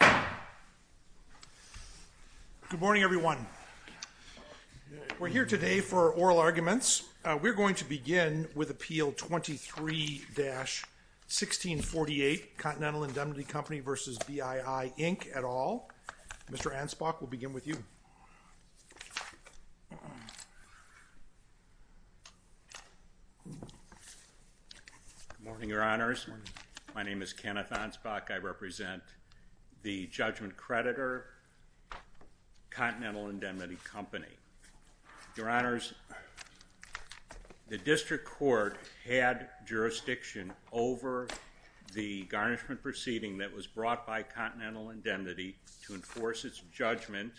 Good morning, everyone. We're here today for oral arguments. We're going to begin with Appeal 23-1648, Continental Indemnity Company v. BII, Inc. et al. Mr. Ansbach, we'll begin with you. Good morning, Your Honors. My name is Kenneth Ansbach. I represent the Judgment Creditor, Continental Indemnity Company. Your Honors, the District Court had jurisdiction over the garnishment proceeding that was brought by Continental Indemnity to enforce its judgment,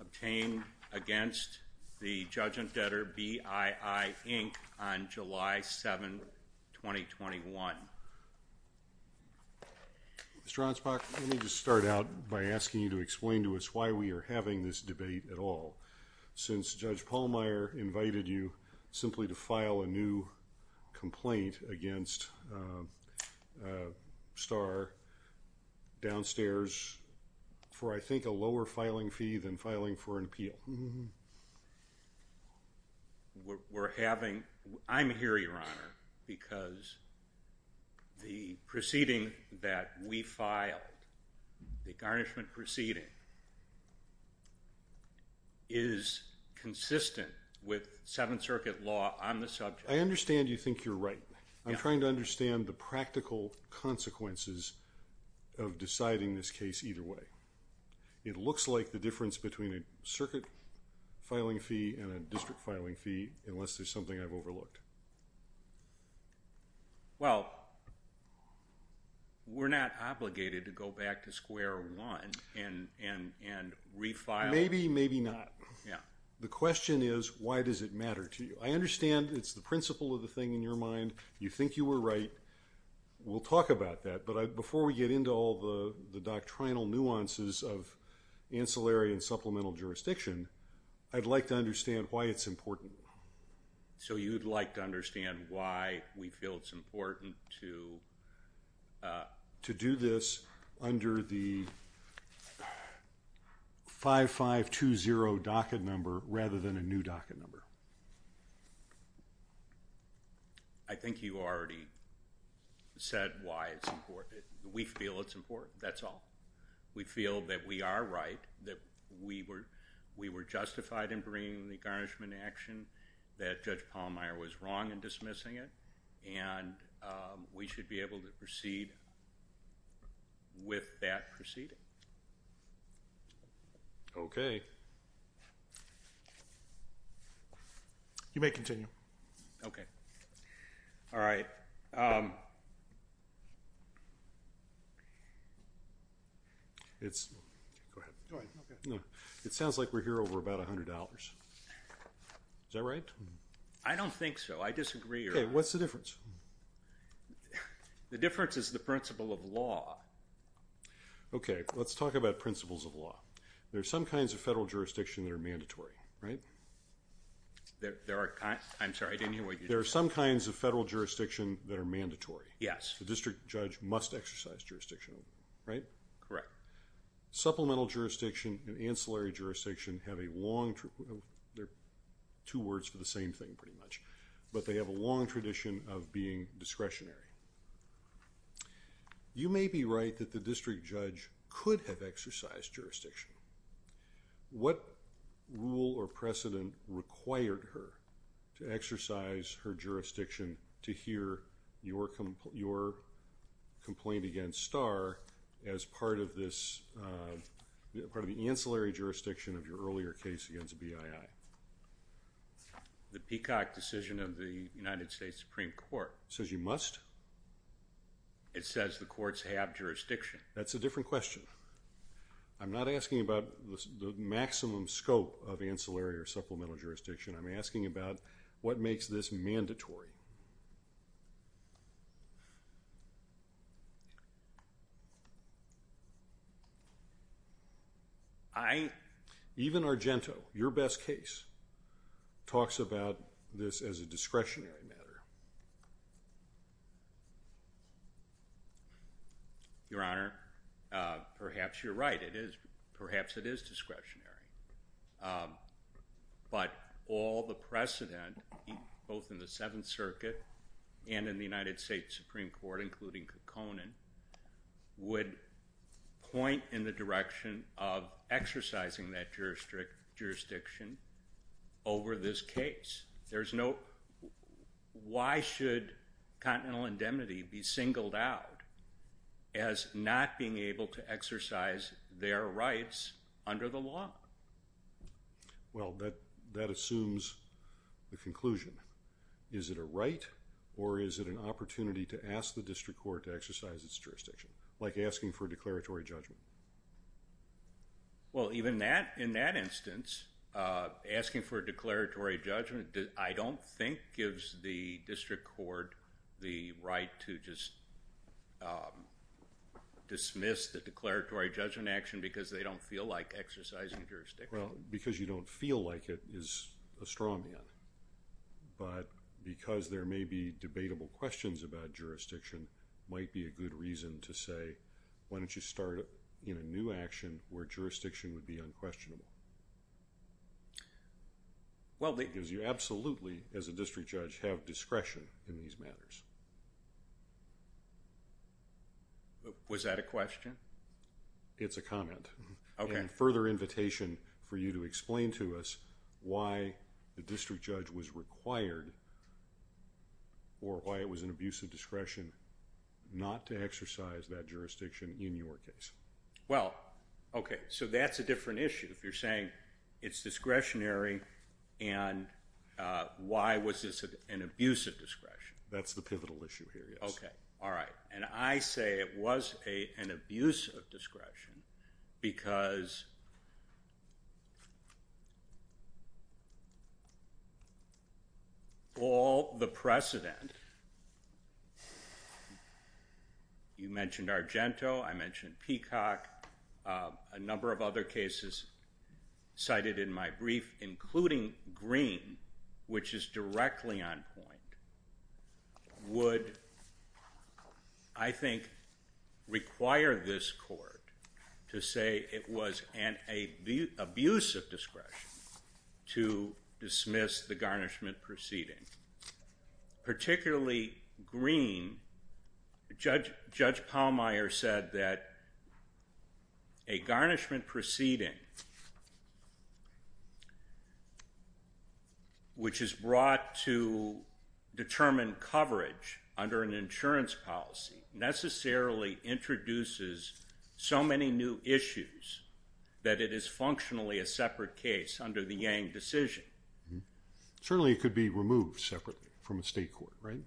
obtained against the judgment debtor, BII, Inc., on July 7, 2021. Mr. Ansbach, let me just start out by asking you to explain to us why we are having this debate at all. Since Judge Pallmeyer invited you simply to file a new complaint against Starr downstairs for, I think, a higher fee than filing for an appeal. I'm here, Your Honor, because the proceeding that we filed, the garnishment proceeding, is consistent with Seventh Circuit law on the subject. I understand you think you're right. I'm trying to understand the practical consequences of deciding this case either way. It looks like the difference between a circuit filing fee and a district filing fee, unless there's something I've overlooked. Well, we're not obligated to go back to square one and refile. Maybe, maybe not. The question is, why does it matter to you? I understand it's the principle of the thing in your mind. You think you were right. We'll talk about that, but before we get into all the doctrinal nuances of ancillary and supplemental jurisdiction, I'd like to understand why it's important. So you'd like to understand why we feel it's important to do this under the 5520 docket number rather than a new docket number. I think you already said why it's important. We feel it's important. That's all. We feel that we are right, that we were justified in bringing the garnishment action, that Judge proceed with that proceeding. Okay. You may continue. Okay. All right. It sounds like we're here over about $100. Is that right? I don't think so. I disagree. Okay, what's the difference? The difference is the principle of law. Okay, let's talk about principles of law. There are some kinds of federal jurisdiction that are mandatory, right? There are, I'm sorry, I didn't hear what you said. There are some kinds of federal jurisdiction that are mandatory. Yes. The district judge must exercise jurisdiction, right? Correct. Supplemental jurisdiction and ancillary jurisdiction have a long, they're two words for the same thing pretty much, but they have a long tradition of being discretionary. You may be right that the district judge could have exercised jurisdiction. What rule or precedent required her to exercise her jurisdiction to hear your complaint against Starr as part of this, part of the ancillary jurisdiction of your earlier case against BII? The Peacock decision of the United States Supreme Court. Says you must? It says the courts have jurisdiction. That's a different question. I'm not asking about the maximum scope of ancillary or supplemental jurisdiction. I'm asking about what makes this mandatory. Even Argento, your best case, talks about this as a discretionary matter. Your Honor, perhaps you're right. It is, perhaps it is discretionary, but all the precedent both in the Seventh Circuit and in the United States Supreme Court, including Kekkonen, would point in the direction of exercising that jurisdiction over this case. There's no, why should continental indemnity be singled out as not being able to exercise their rights under the law? Well, that assumes the conclusion. Is it a right or is it an opportunity to ask the district court to exercise its jurisdiction, like asking for a declaratory judgment? Well, even that, in that instance, asking for a declaratory judgment, I don't think gives the district court the right to just dismiss the declaratory judgment action because they don't feel like exercising jurisdiction. Well, because you don't feel like it is a straw man, but because there may be debatable questions about jurisdiction, might be a good reason to say, why don't you start in a new action where jurisdiction would be unquestionable? Well, because you absolutely, as a district judge, have discretion in these matters. Was that a question? It's a comment. Okay. And further invitation for you to explain to us why the district judge was required or why it was an abuse of discretion not to exercise that jurisdiction in your case. Well, okay, so that's a different issue. If you're saying it's discretionary and why was this an abuse of discretion? That's the pivotal issue here, yes. Okay. All right. And I say it was an abuse of discretion because all the precedent, you mentioned Argento, I mentioned Peacock, a number of other cases cited in my brief, including Green, which is directly on point, would, I think, require this court to say it was an abuse of discretion to dismiss the garnishment proceeding. Particularly Green, Judge Pallmeyer said that a garnishment proceeding, which is brought to determine coverage under an insurance policy, necessarily introduces so many new issues that it is functionally a separate case under the Yang decision. Certainly it could be removed separately from a state court, right?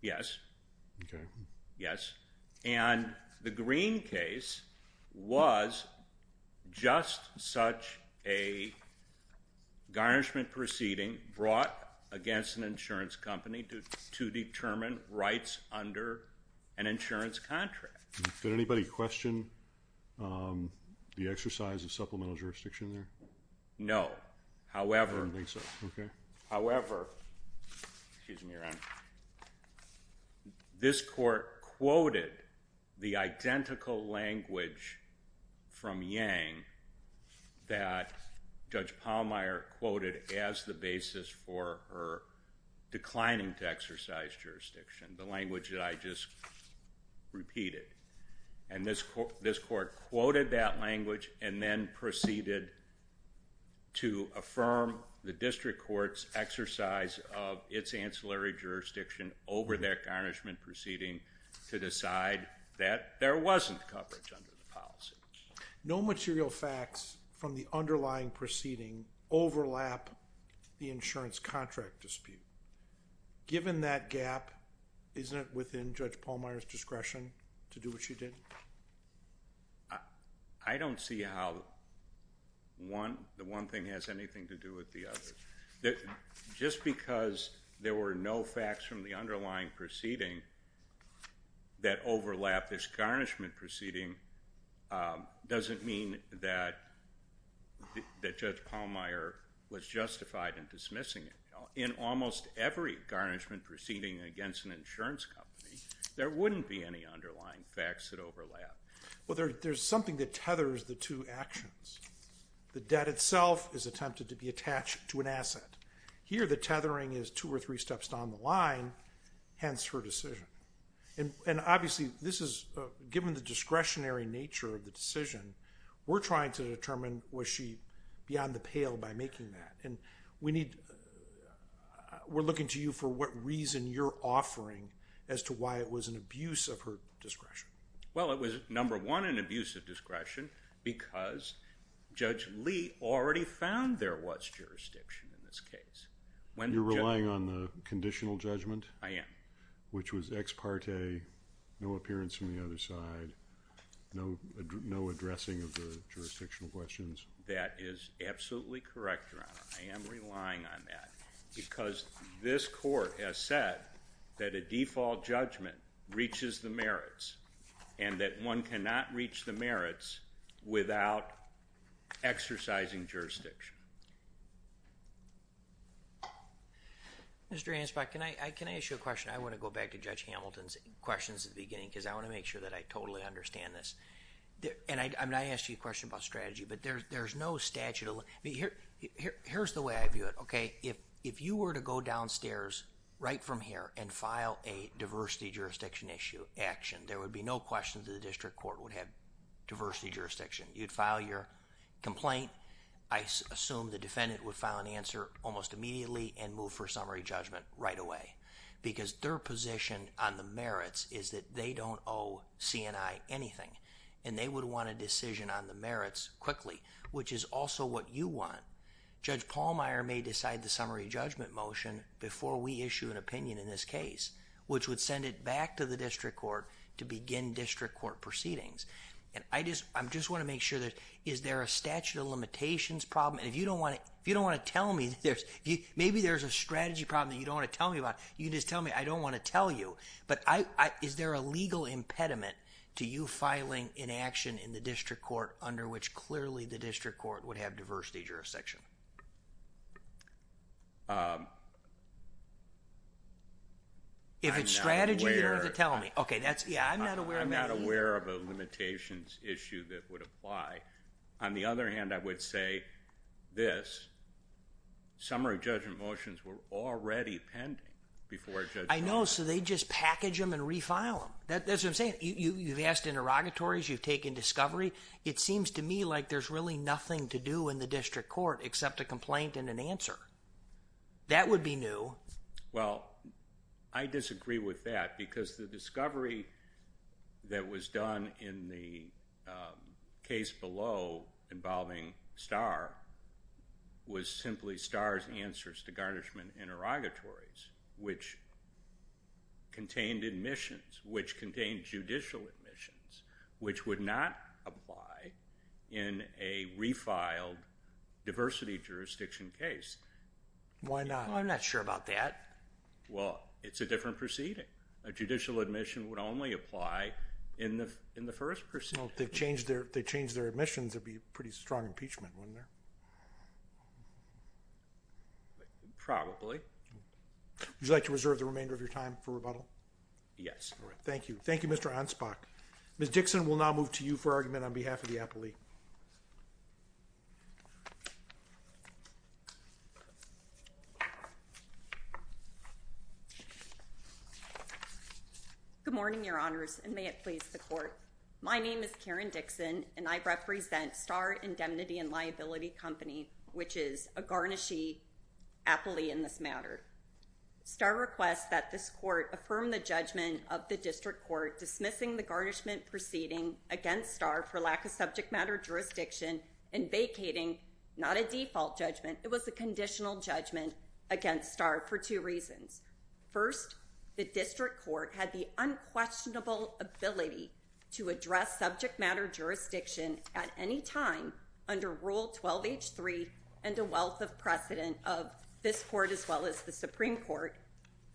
Yes. Okay. Yes. And the Green case was just such a garnishment proceeding brought against an insurance company to determine rights under an insurance contract. Did anybody question the exercise of supplemental jurisdiction there? No. However, however, this court quoted the identical language from Yang that Judge Pallmeyer quoted as the basis for her declining to exercise jurisdiction, the language that I just repeated. And this court quoted that language and then proceeded to affirm the district court's exercise of its ancillary jurisdiction over that garnishment proceeding to decide that there wasn't coverage under the policy. No material facts from the underlying proceeding overlap the insurance contract dispute. Given that gap, isn't it within Judge Pallmeyer's discretion to do what she did? I don't see how the one thing has anything to do with the other. Just because there were no facts from the underlying proceeding that overlap this garnishment proceeding doesn't mean that Judge Pallmeyer was justified in dismissing it. In almost every garnishment proceeding against an insurance company, there wouldn't be any underlying facts that overlap. Well, there's something that tethers the two actions. The debt itself is attempted to be attached to an asset. Here, the tethering is two or three steps down the line, hence her decision. And obviously, given the discretionary nature of the decision, we're trying to determine was she beyond the pale by making that. And we're looking to you for what reason you're offering as to why it was an abuse of her discretion. Well, it was, number one, an abuse of discretion because Judge Lee already found there was jurisdiction in this case. You're relying on the conditional judgment? I am. Which was ex parte, no appearance from the other side, no addressing of the jurisdictional questions? That is absolutely correct, Your Honor. I am relying on that because this court has said that a default judgment reaches the merits and that one cannot reach the merits without exercising jurisdiction. Mr. Anspach, can I ask you a question? I want to go back to Judge Hamilton's questions at the beginning because I want to make sure that I totally understand this. And I asked you a question about strategy, but there's no statute. Here's the way I view it, okay? If you were to go downstairs right from here and file a diversity jurisdiction action, there would be no question that the district court would have diversity jurisdiction. You'd file your complaint. I assume the defendant would file an answer almost immediately and move for summary judgment right away because their position on the merits is that they would want a decision on the merits quickly, which is also what you want. Judge Pallmeyer may decide the summary judgment motion before we issue an opinion in this case, which would send it back to the district court to begin district court proceedings. And I just want to make sure that is there a statute of limitations problem? And if you don't want to tell me, maybe there's a strategy problem that you don't want to tell me about, you can just tell me. I don't want to tell you. But is there a legal impediment to you filing an action in the district court under which clearly the district court would have diversity jurisdiction? If it's strategy, you don't have to tell me. I'm not aware of a limitations issue that would apply. On the other hand, I would say this. Summary judgment motions were already pending before Judge Pallmeyer. I know. So they just package them and refile them. That's what I'm saying. You've asked interrogatories. You've taken discovery. It seems to me like there's really nothing to do in the district court except a complaint and an answer. That would be new. Well, I disagree with that because the discovery that was done in the case below involving Starr was simply Starr's answers to garnishment interrogatories, which contained admissions, which contained judicial admissions, which would not apply in a refiled diversity jurisdiction case. Why not? I'm not sure about that. Well, it's a different proceeding. A judicial admission would only apply in the first proceeding. If they change their admissions, there'd be pretty strong impeachment, wouldn't there? Probably. Would you like to reserve the remainder of your time for rebuttal? Yes. Thank you. Thank you, Mr. Ansbach. Ms. Dixon, we'll now move to you for argument on behalf of the appellee. Good morning, Your Honors, and may it please the court. My name is Karen Dixon, and I represent Starr Indemnity and Liability Company, which is a garnishee appellee in this matter. Starr requests that this court affirm the judgment of the district court dismissing the garnishment proceeding against Starr for lack of subject matter jurisdiction and vacating not a default judgment. It was a conditional judgment against Starr for two reasons. First, the district court had the unquestionable ability to address subject matter jurisdiction at any time under Rule 12H3 and a wealth of precedent of this court as well as the Supreme Court,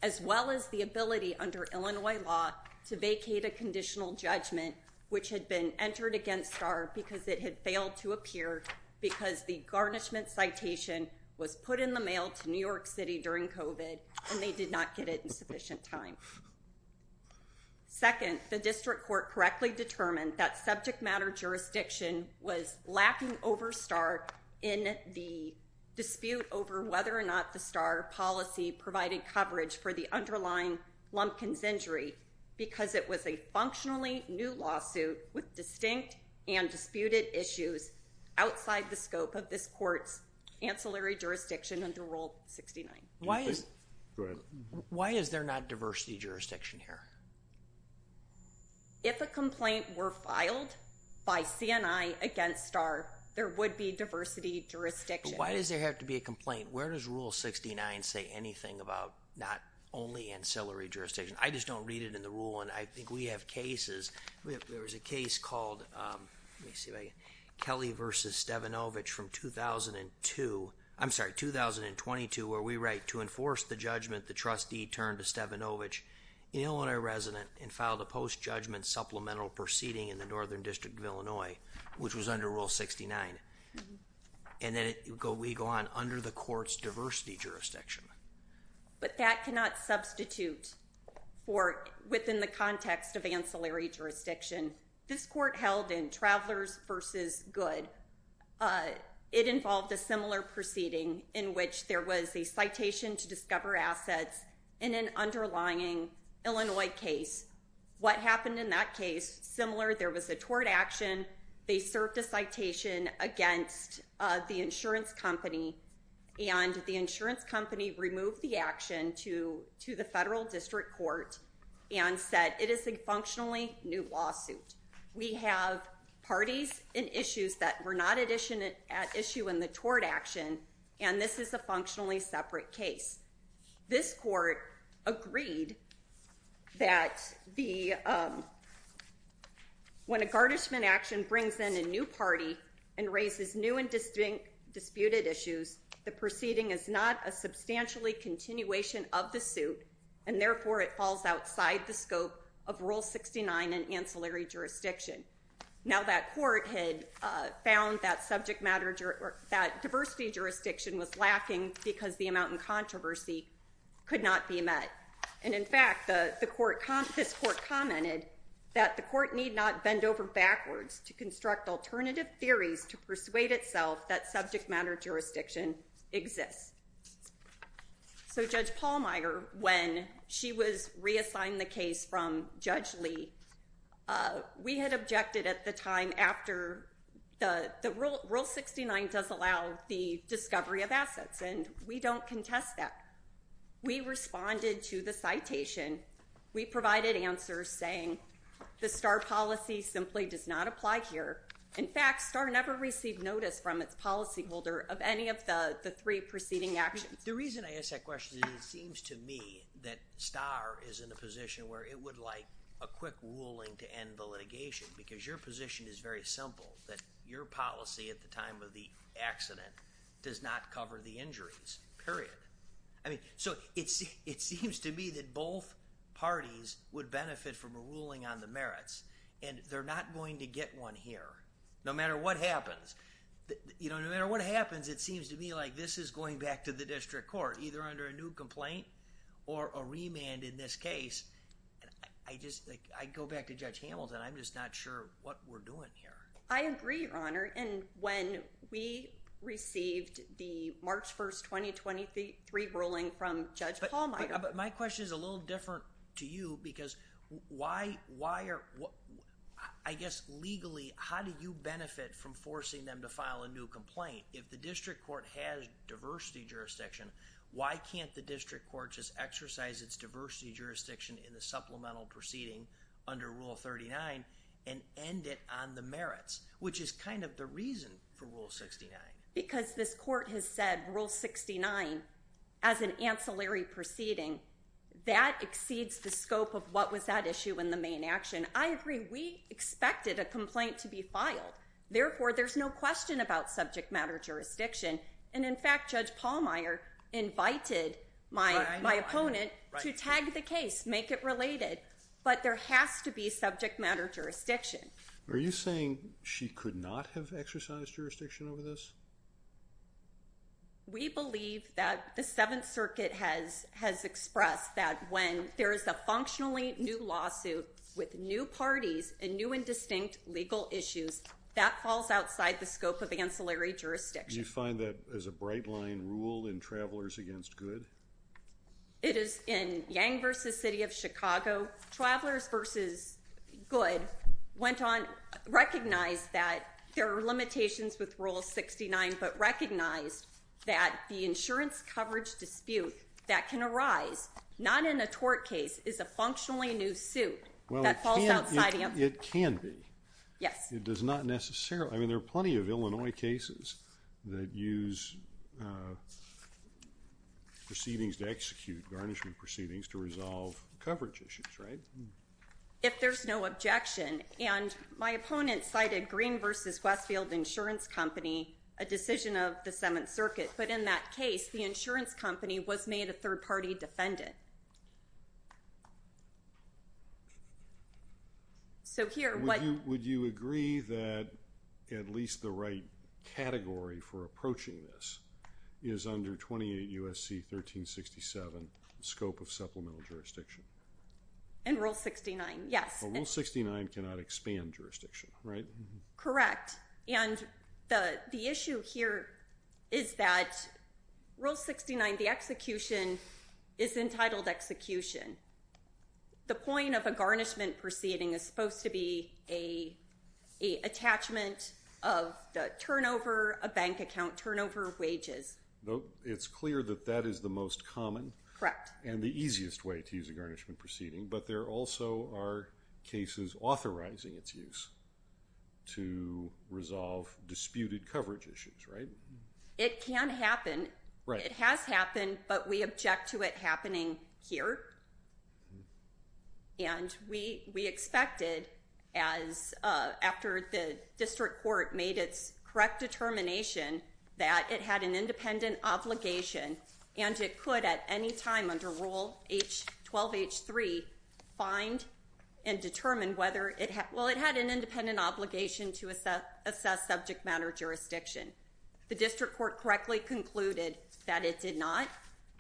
as well as the ability under Illinois law to vacate a conditional judgment which had been entered against Starr because it had failed to appear because the garnishment citation was put in the mail to New York City during COVID and they did not get it in sufficient time. Second, the district court correctly determined that subject matter jurisdiction was lacking over Starr in the dispute over whether or not the Starr policy provided coverage for the underlying Lumpkins injury because it was a functionally new lawsuit with distinct and disputed issues outside the scope of this court's ancillary jurisdiction under Rule 69. Why is there not diversity jurisdiction here? If a complaint were filed by CNI against Starr, there would be diversity jurisdiction. Why does there have to be a complaint? Where does Rule 69 say anything about not only ancillary jurisdiction? I just don't read it in the rule and I think we have cases. There was a case called Kelly v. Stevanovich from 2002. I'm sorry, 2022 where we write, to enforce the judgment, the trustee turned to Stevanovich. He's an Illinois resident and filed a post-judgment supplemental proceeding in the Northern District of Illinois, which was under Rule 69. And then we go on under the court's diversity jurisdiction. But that cannot substitute within the context of ancillary jurisdiction. This court held in Travelers v. Good. It involved a similar proceeding in which there was a citation to discover assets in an underlying Illinois case. What happened in that case, similar, there was a tort action. They served a citation against the insurance company. And the insurance company removed the action to the federal district court and said it is a functionally new lawsuit. We have parties and issues that were not at issue in the tort action. And this is a functionally separate case. This court agreed that when a garnishment action brings in a new party and raises new and disputed issues, the proceeding is not a substantially continuation of the suit. And therefore, it falls outside the scope of Rule 69 and ancillary jurisdiction. Now, that court had found that subject matter or that diversity jurisdiction was lacking because the amount in controversy could not be met. And in fact, this court commented that the court need not bend over backwards to construct alternative theories to persuade itself that subject matter jurisdiction exists. So Judge Pallmeyer, when she was reassigned the case from Judge Lee, we had objected at the time after the Rule 69 does allow the discovery of assets. And we don't contest that. We responded to the citation. We provided answers saying the STAR policy simply does not apply here. In fact, STAR never received notice from its policyholder of any of the three proceeding actions. The reason I ask that question is it seems to me that STAR is in a position where it would like a quick ruling to end the litigation. Because your position is very simple, that your policy at the time of the accident does not cover the injuries, period. I mean, so it seems to me that both parties would benefit from a ruling on the merits. And they're not going to get one here, no matter what happens. You know, no matter what happens, it seems to me like this is going back to the district court, either under a new complaint or a remand in this case. I go back to Judge Hamilton. I'm just not sure what we're doing here. I agree, Your Honor. And when we received the March 1st, 2023 ruling from Judge Pallmeyer... But my question is a little different to you because why are... I guess legally, how do you benefit from forcing them to file a new complaint? If the district court has diversity jurisdiction, why can't the district court just exercise its diversity jurisdiction in the supplemental proceeding under Rule 39 and end it on the merits? Which is kind of the reason for Rule 69. Because this court has said Rule 69, as an ancillary proceeding, that exceeds the scope of what was at issue in the main action. I agree. We expected a complaint to be filed. Therefore, there's no question about subject matter jurisdiction. And, in fact, Judge Pallmeyer invited my opponent to tag the case, make it related. But there has to be subject matter jurisdiction. Are you saying she could not have exercised jurisdiction over this? We believe that the Seventh Circuit has expressed that when there is a functionally new lawsuit with new parties and new and distinct legal issues, that falls outside the scope of ancillary jurisdiction. Do you find that as a bright line rule in Travelers Against Good? It is in Yang v. City of Chicago. So Travelers v. Good went on, recognized that there are limitations with Rule 69, but recognized that the insurance coverage dispute that can arise, not in a tort case, is a functionally new suit. Well, it can be. Yes. It does not necessarily. I mean, there are plenty of Illinois cases that use proceedings to execute, garnishment proceedings to resolve coverage issues, right? If there's no objection. And my opponent cited Green v. Westfield Insurance Company, a decision of the Seventh Circuit. But in that case, the insurance company was made a third-party defendant. Would you agree that at least the right category for approaching this is under 28 U.S.C. 1367, scope of supplemental jurisdiction? In Rule 69, yes. Rule 69 cannot expand jurisdiction, right? Correct. And the issue here is that Rule 69, the execution, is entitled execution. The point of a garnishment proceeding is supposed to be an attachment of the turnover, a bank account turnover of wages. It's clear that that is the most common. Correct. And the easiest way to use a garnishment proceeding. But there also are cases authorizing its use to resolve disputed coverage issues, right? It can happen. It has happened, but we object to it happening here. And we expected, after the district court made its correct determination that it had an independent obligation, and it could at any time under Rule 12H.3 find and determine whether it had an independent obligation to assess subject matter jurisdiction. The district court correctly concluded that it did not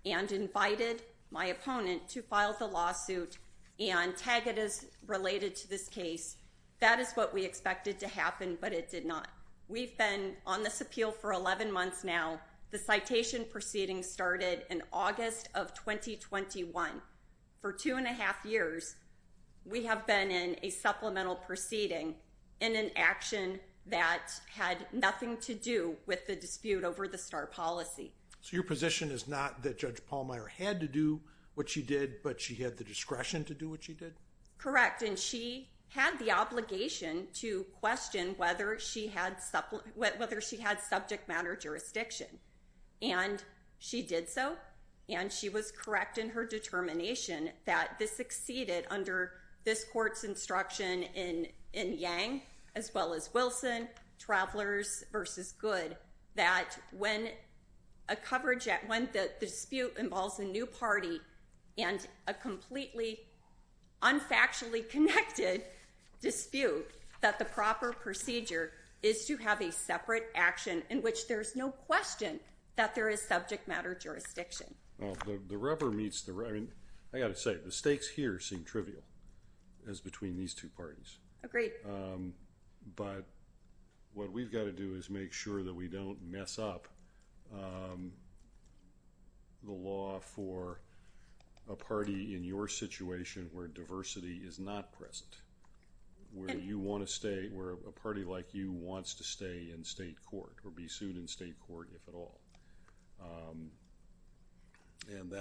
and invited my opponent to file the lawsuit and tag it as related to this case. That is what we expected to happen, but it did not. We've been on this appeal for 11 months now. The citation proceeding started in August of 2021. For two and a half years, we have been in a supplemental proceeding in an action that had nothing to do with the dispute over the STAR policy. So your position is not that Judge Pallmeyer had to do what she did, but she had the discretion to do what she did? Correct. And she had the obligation to question whether she had subject matter jurisdiction. And she did so, and she was correct in her determination that this succeeded under this court's instruction in Yang as well as Wilson, Travelers v. Good, that when a dispute involves a new party and a completely unfactually connected dispute, that the proper procedure is to have a separate action in which there's no question that there is subject matter jurisdiction. The rubber meets the road. I got to say, the stakes here seem trivial as between these two parties. Agreed. But what we've got to do is make sure that we don't mess up the law for a party in your situation where diversity is not present, where you want to stay, where a party like you wants to stay in state court or be sued in state court, if at all. And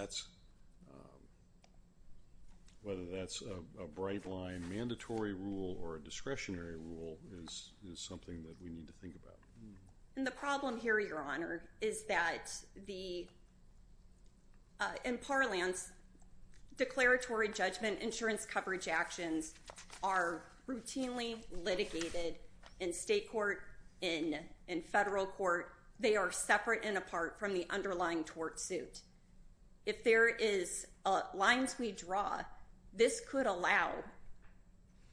whether that's a bright line mandatory rule or a discretionary rule is something that we need to think about. And the problem here, Your Honor, is that in parlance, declaratory judgment insurance coverage actions are routinely litigated in state court, in federal court. They are separate and apart from the underlying tort suit. If there is lines we draw, this could allow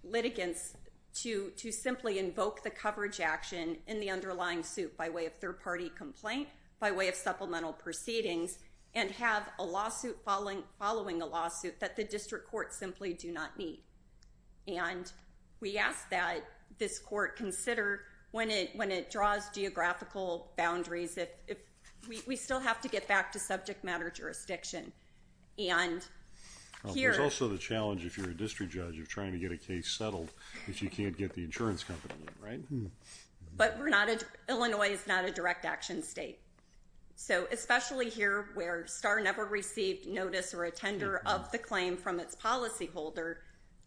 litigants to simply invoke the coverage action in the underlying suit by way of third party complaint, by way of supplemental proceedings and have a lawsuit following a lawsuit that the district courts simply do not need. And we ask that this court consider, when it draws geographical boundaries, if we still have to get back to subject matter jurisdiction. There's also the challenge, if you're a district judge, of trying to get a case settled if you can't get the insurance company in, right? But Illinois is not a direct action state. So especially here where STAR never received notice or a tender of the claim from its policyholder,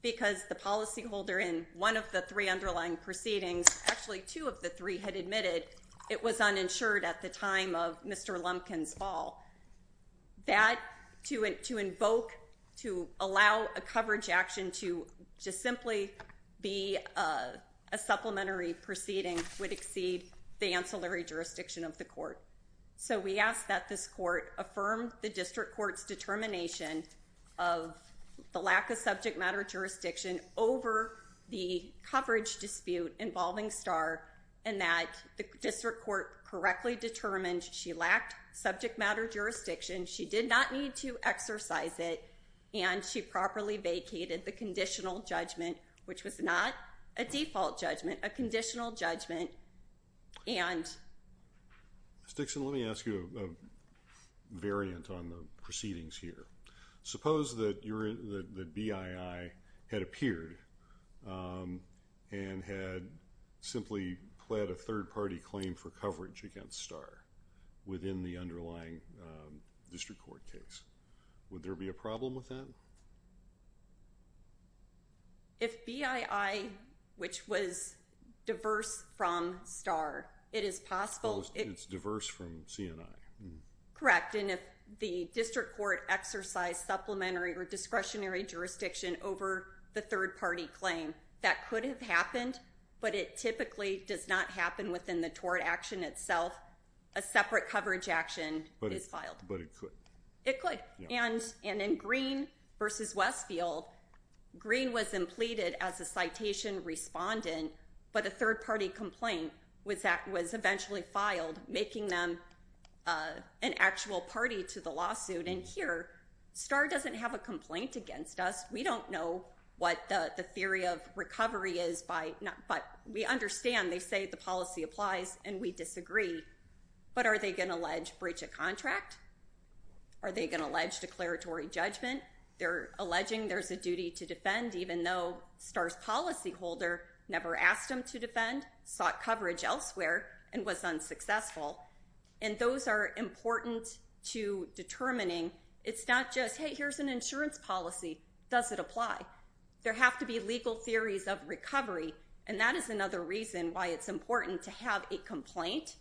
because the policyholder in one of the three underlying proceedings, actually two of the three had admitted, it was uninsured at the time of Mr. Lumpkin's fall. That to invoke, to allow a coverage action to just simply be a supplementary proceeding would exceed the ancillary jurisdiction of the court. So we ask that this court affirm the district court's determination of the lack of subject matter jurisdiction over the coverage dispute involving STAR and that the district court correctly determined she lacked subject matter jurisdiction, she did not need to exercise it, and she properly vacated the conditional judgment, which was not a default judgment, a conditional judgment. Ms. Dixon, let me ask you a variant on the proceedings here. Suppose that BII had appeared and had simply pled a third-party claim for coverage against STAR within the underlying district court case. Would there be a problem with that? If BII, which was diverse from STAR, it is possible... It's diverse from CNI. Correct. And if the district court exercised supplementary or discretionary jurisdiction over the third-party claim, that could have happened, but it typically does not happen within the tort action itself. A separate coverage action is filed. But it could. It could. And in Green v. Westfield, Green was pleaded as a citation respondent, but a third-party complaint was eventually filed, making them an actual party to the lawsuit. And here, STAR doesn't have a complaint against us. We don't know what the theory of recovery is, but we understand. They say the policy applies, and we disagree. But are they going to allege breach of contract? Are they going to allege declaratory judgment? They're alleging there's a duty to defend, even though STAR's policyholder never asked them to defend, sought coverage elsewhere, and was unsuccessful. And those are important to determining. It's not just, hey, here's an insurance policy. Does it apply? There have to be legal theories of recovery, and that is another reason why it's important to have a complaint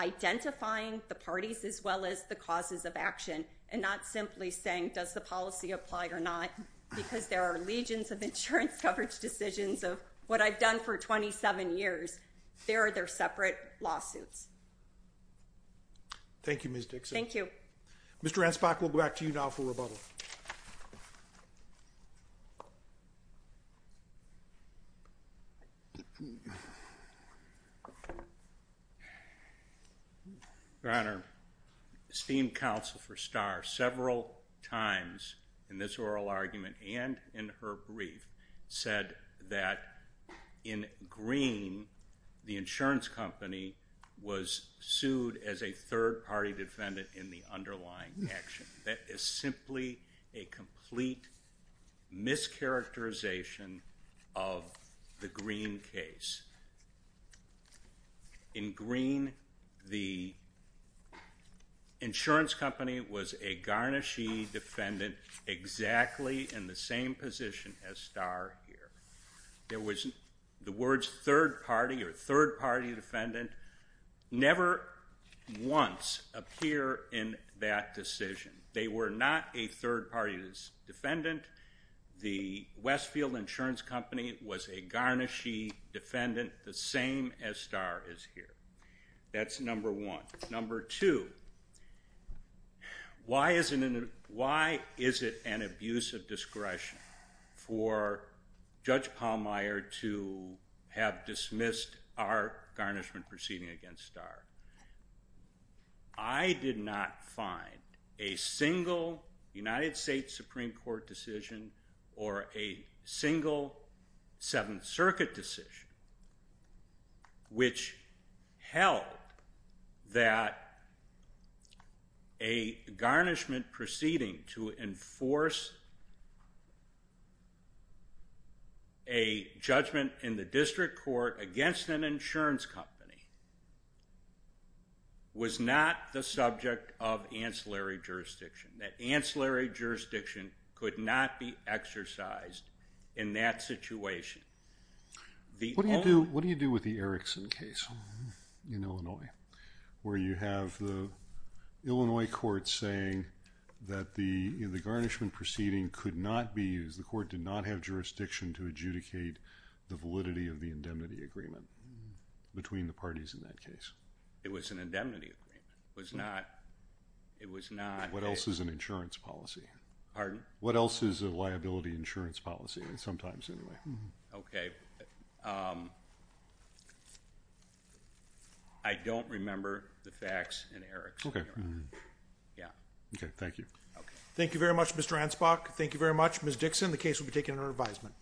identifying the parties as well as the causes of action and not simply saying, does the policy apply or not, because there are legions of insurance coverage decisions of what I've done for 27 years. They are their separate lawsuits. Thank you, Ms. Dixon. Thank you. Mr. Ansbach, we'll go back to you now for rebuttal. Your Honor, esteemed counsel for STAR, several times in this oral argument and in her brief, said that in Green, the insurance company was sued as a third-party defendant in the underlying action. That is simply a complete mischaracterization of the Green case. In Green, the insurance company was a garnishee defendant exactly in the same position as STAR here. The words third-party or third-party defendant never once appear in that decision. They were not a third-party defendant. The Westfield Insurance Company was a garnishee defendant, the same as STAR is here. That's number one. Number two, why is it an abuse of discretion for Judge Pallmeyer to have dismissed our garnishment proceeding against STAR? I did not find a single United States Supreme Court decision or a single Seventh Circuit decision which held that a garnishment proceeding to enforce a judgment in the district court against an insurance company was not the subject of ancillary jurisdiction. That ancillary jurisdiction could not be exercised in that situation. What do you do with the Erickson case in Illinois, where you have the Illinois court saying that the garnishment proceeding could not be used, the court did not have jurisdiction to adjudicate the validity of the indemnity agreement between the parties in that case? It was an indemnity agreement. What else is an insurance policy? Pardon? What else is a liability insurance policy, sometimes, anyway? Okay. I don't remember the facts in Erickson. Okay. Yeah. Okay, thank you. Thank you very much, Mr. Ansbach. Thank you very much, Ms. Dixon. The case will be taken under advisement.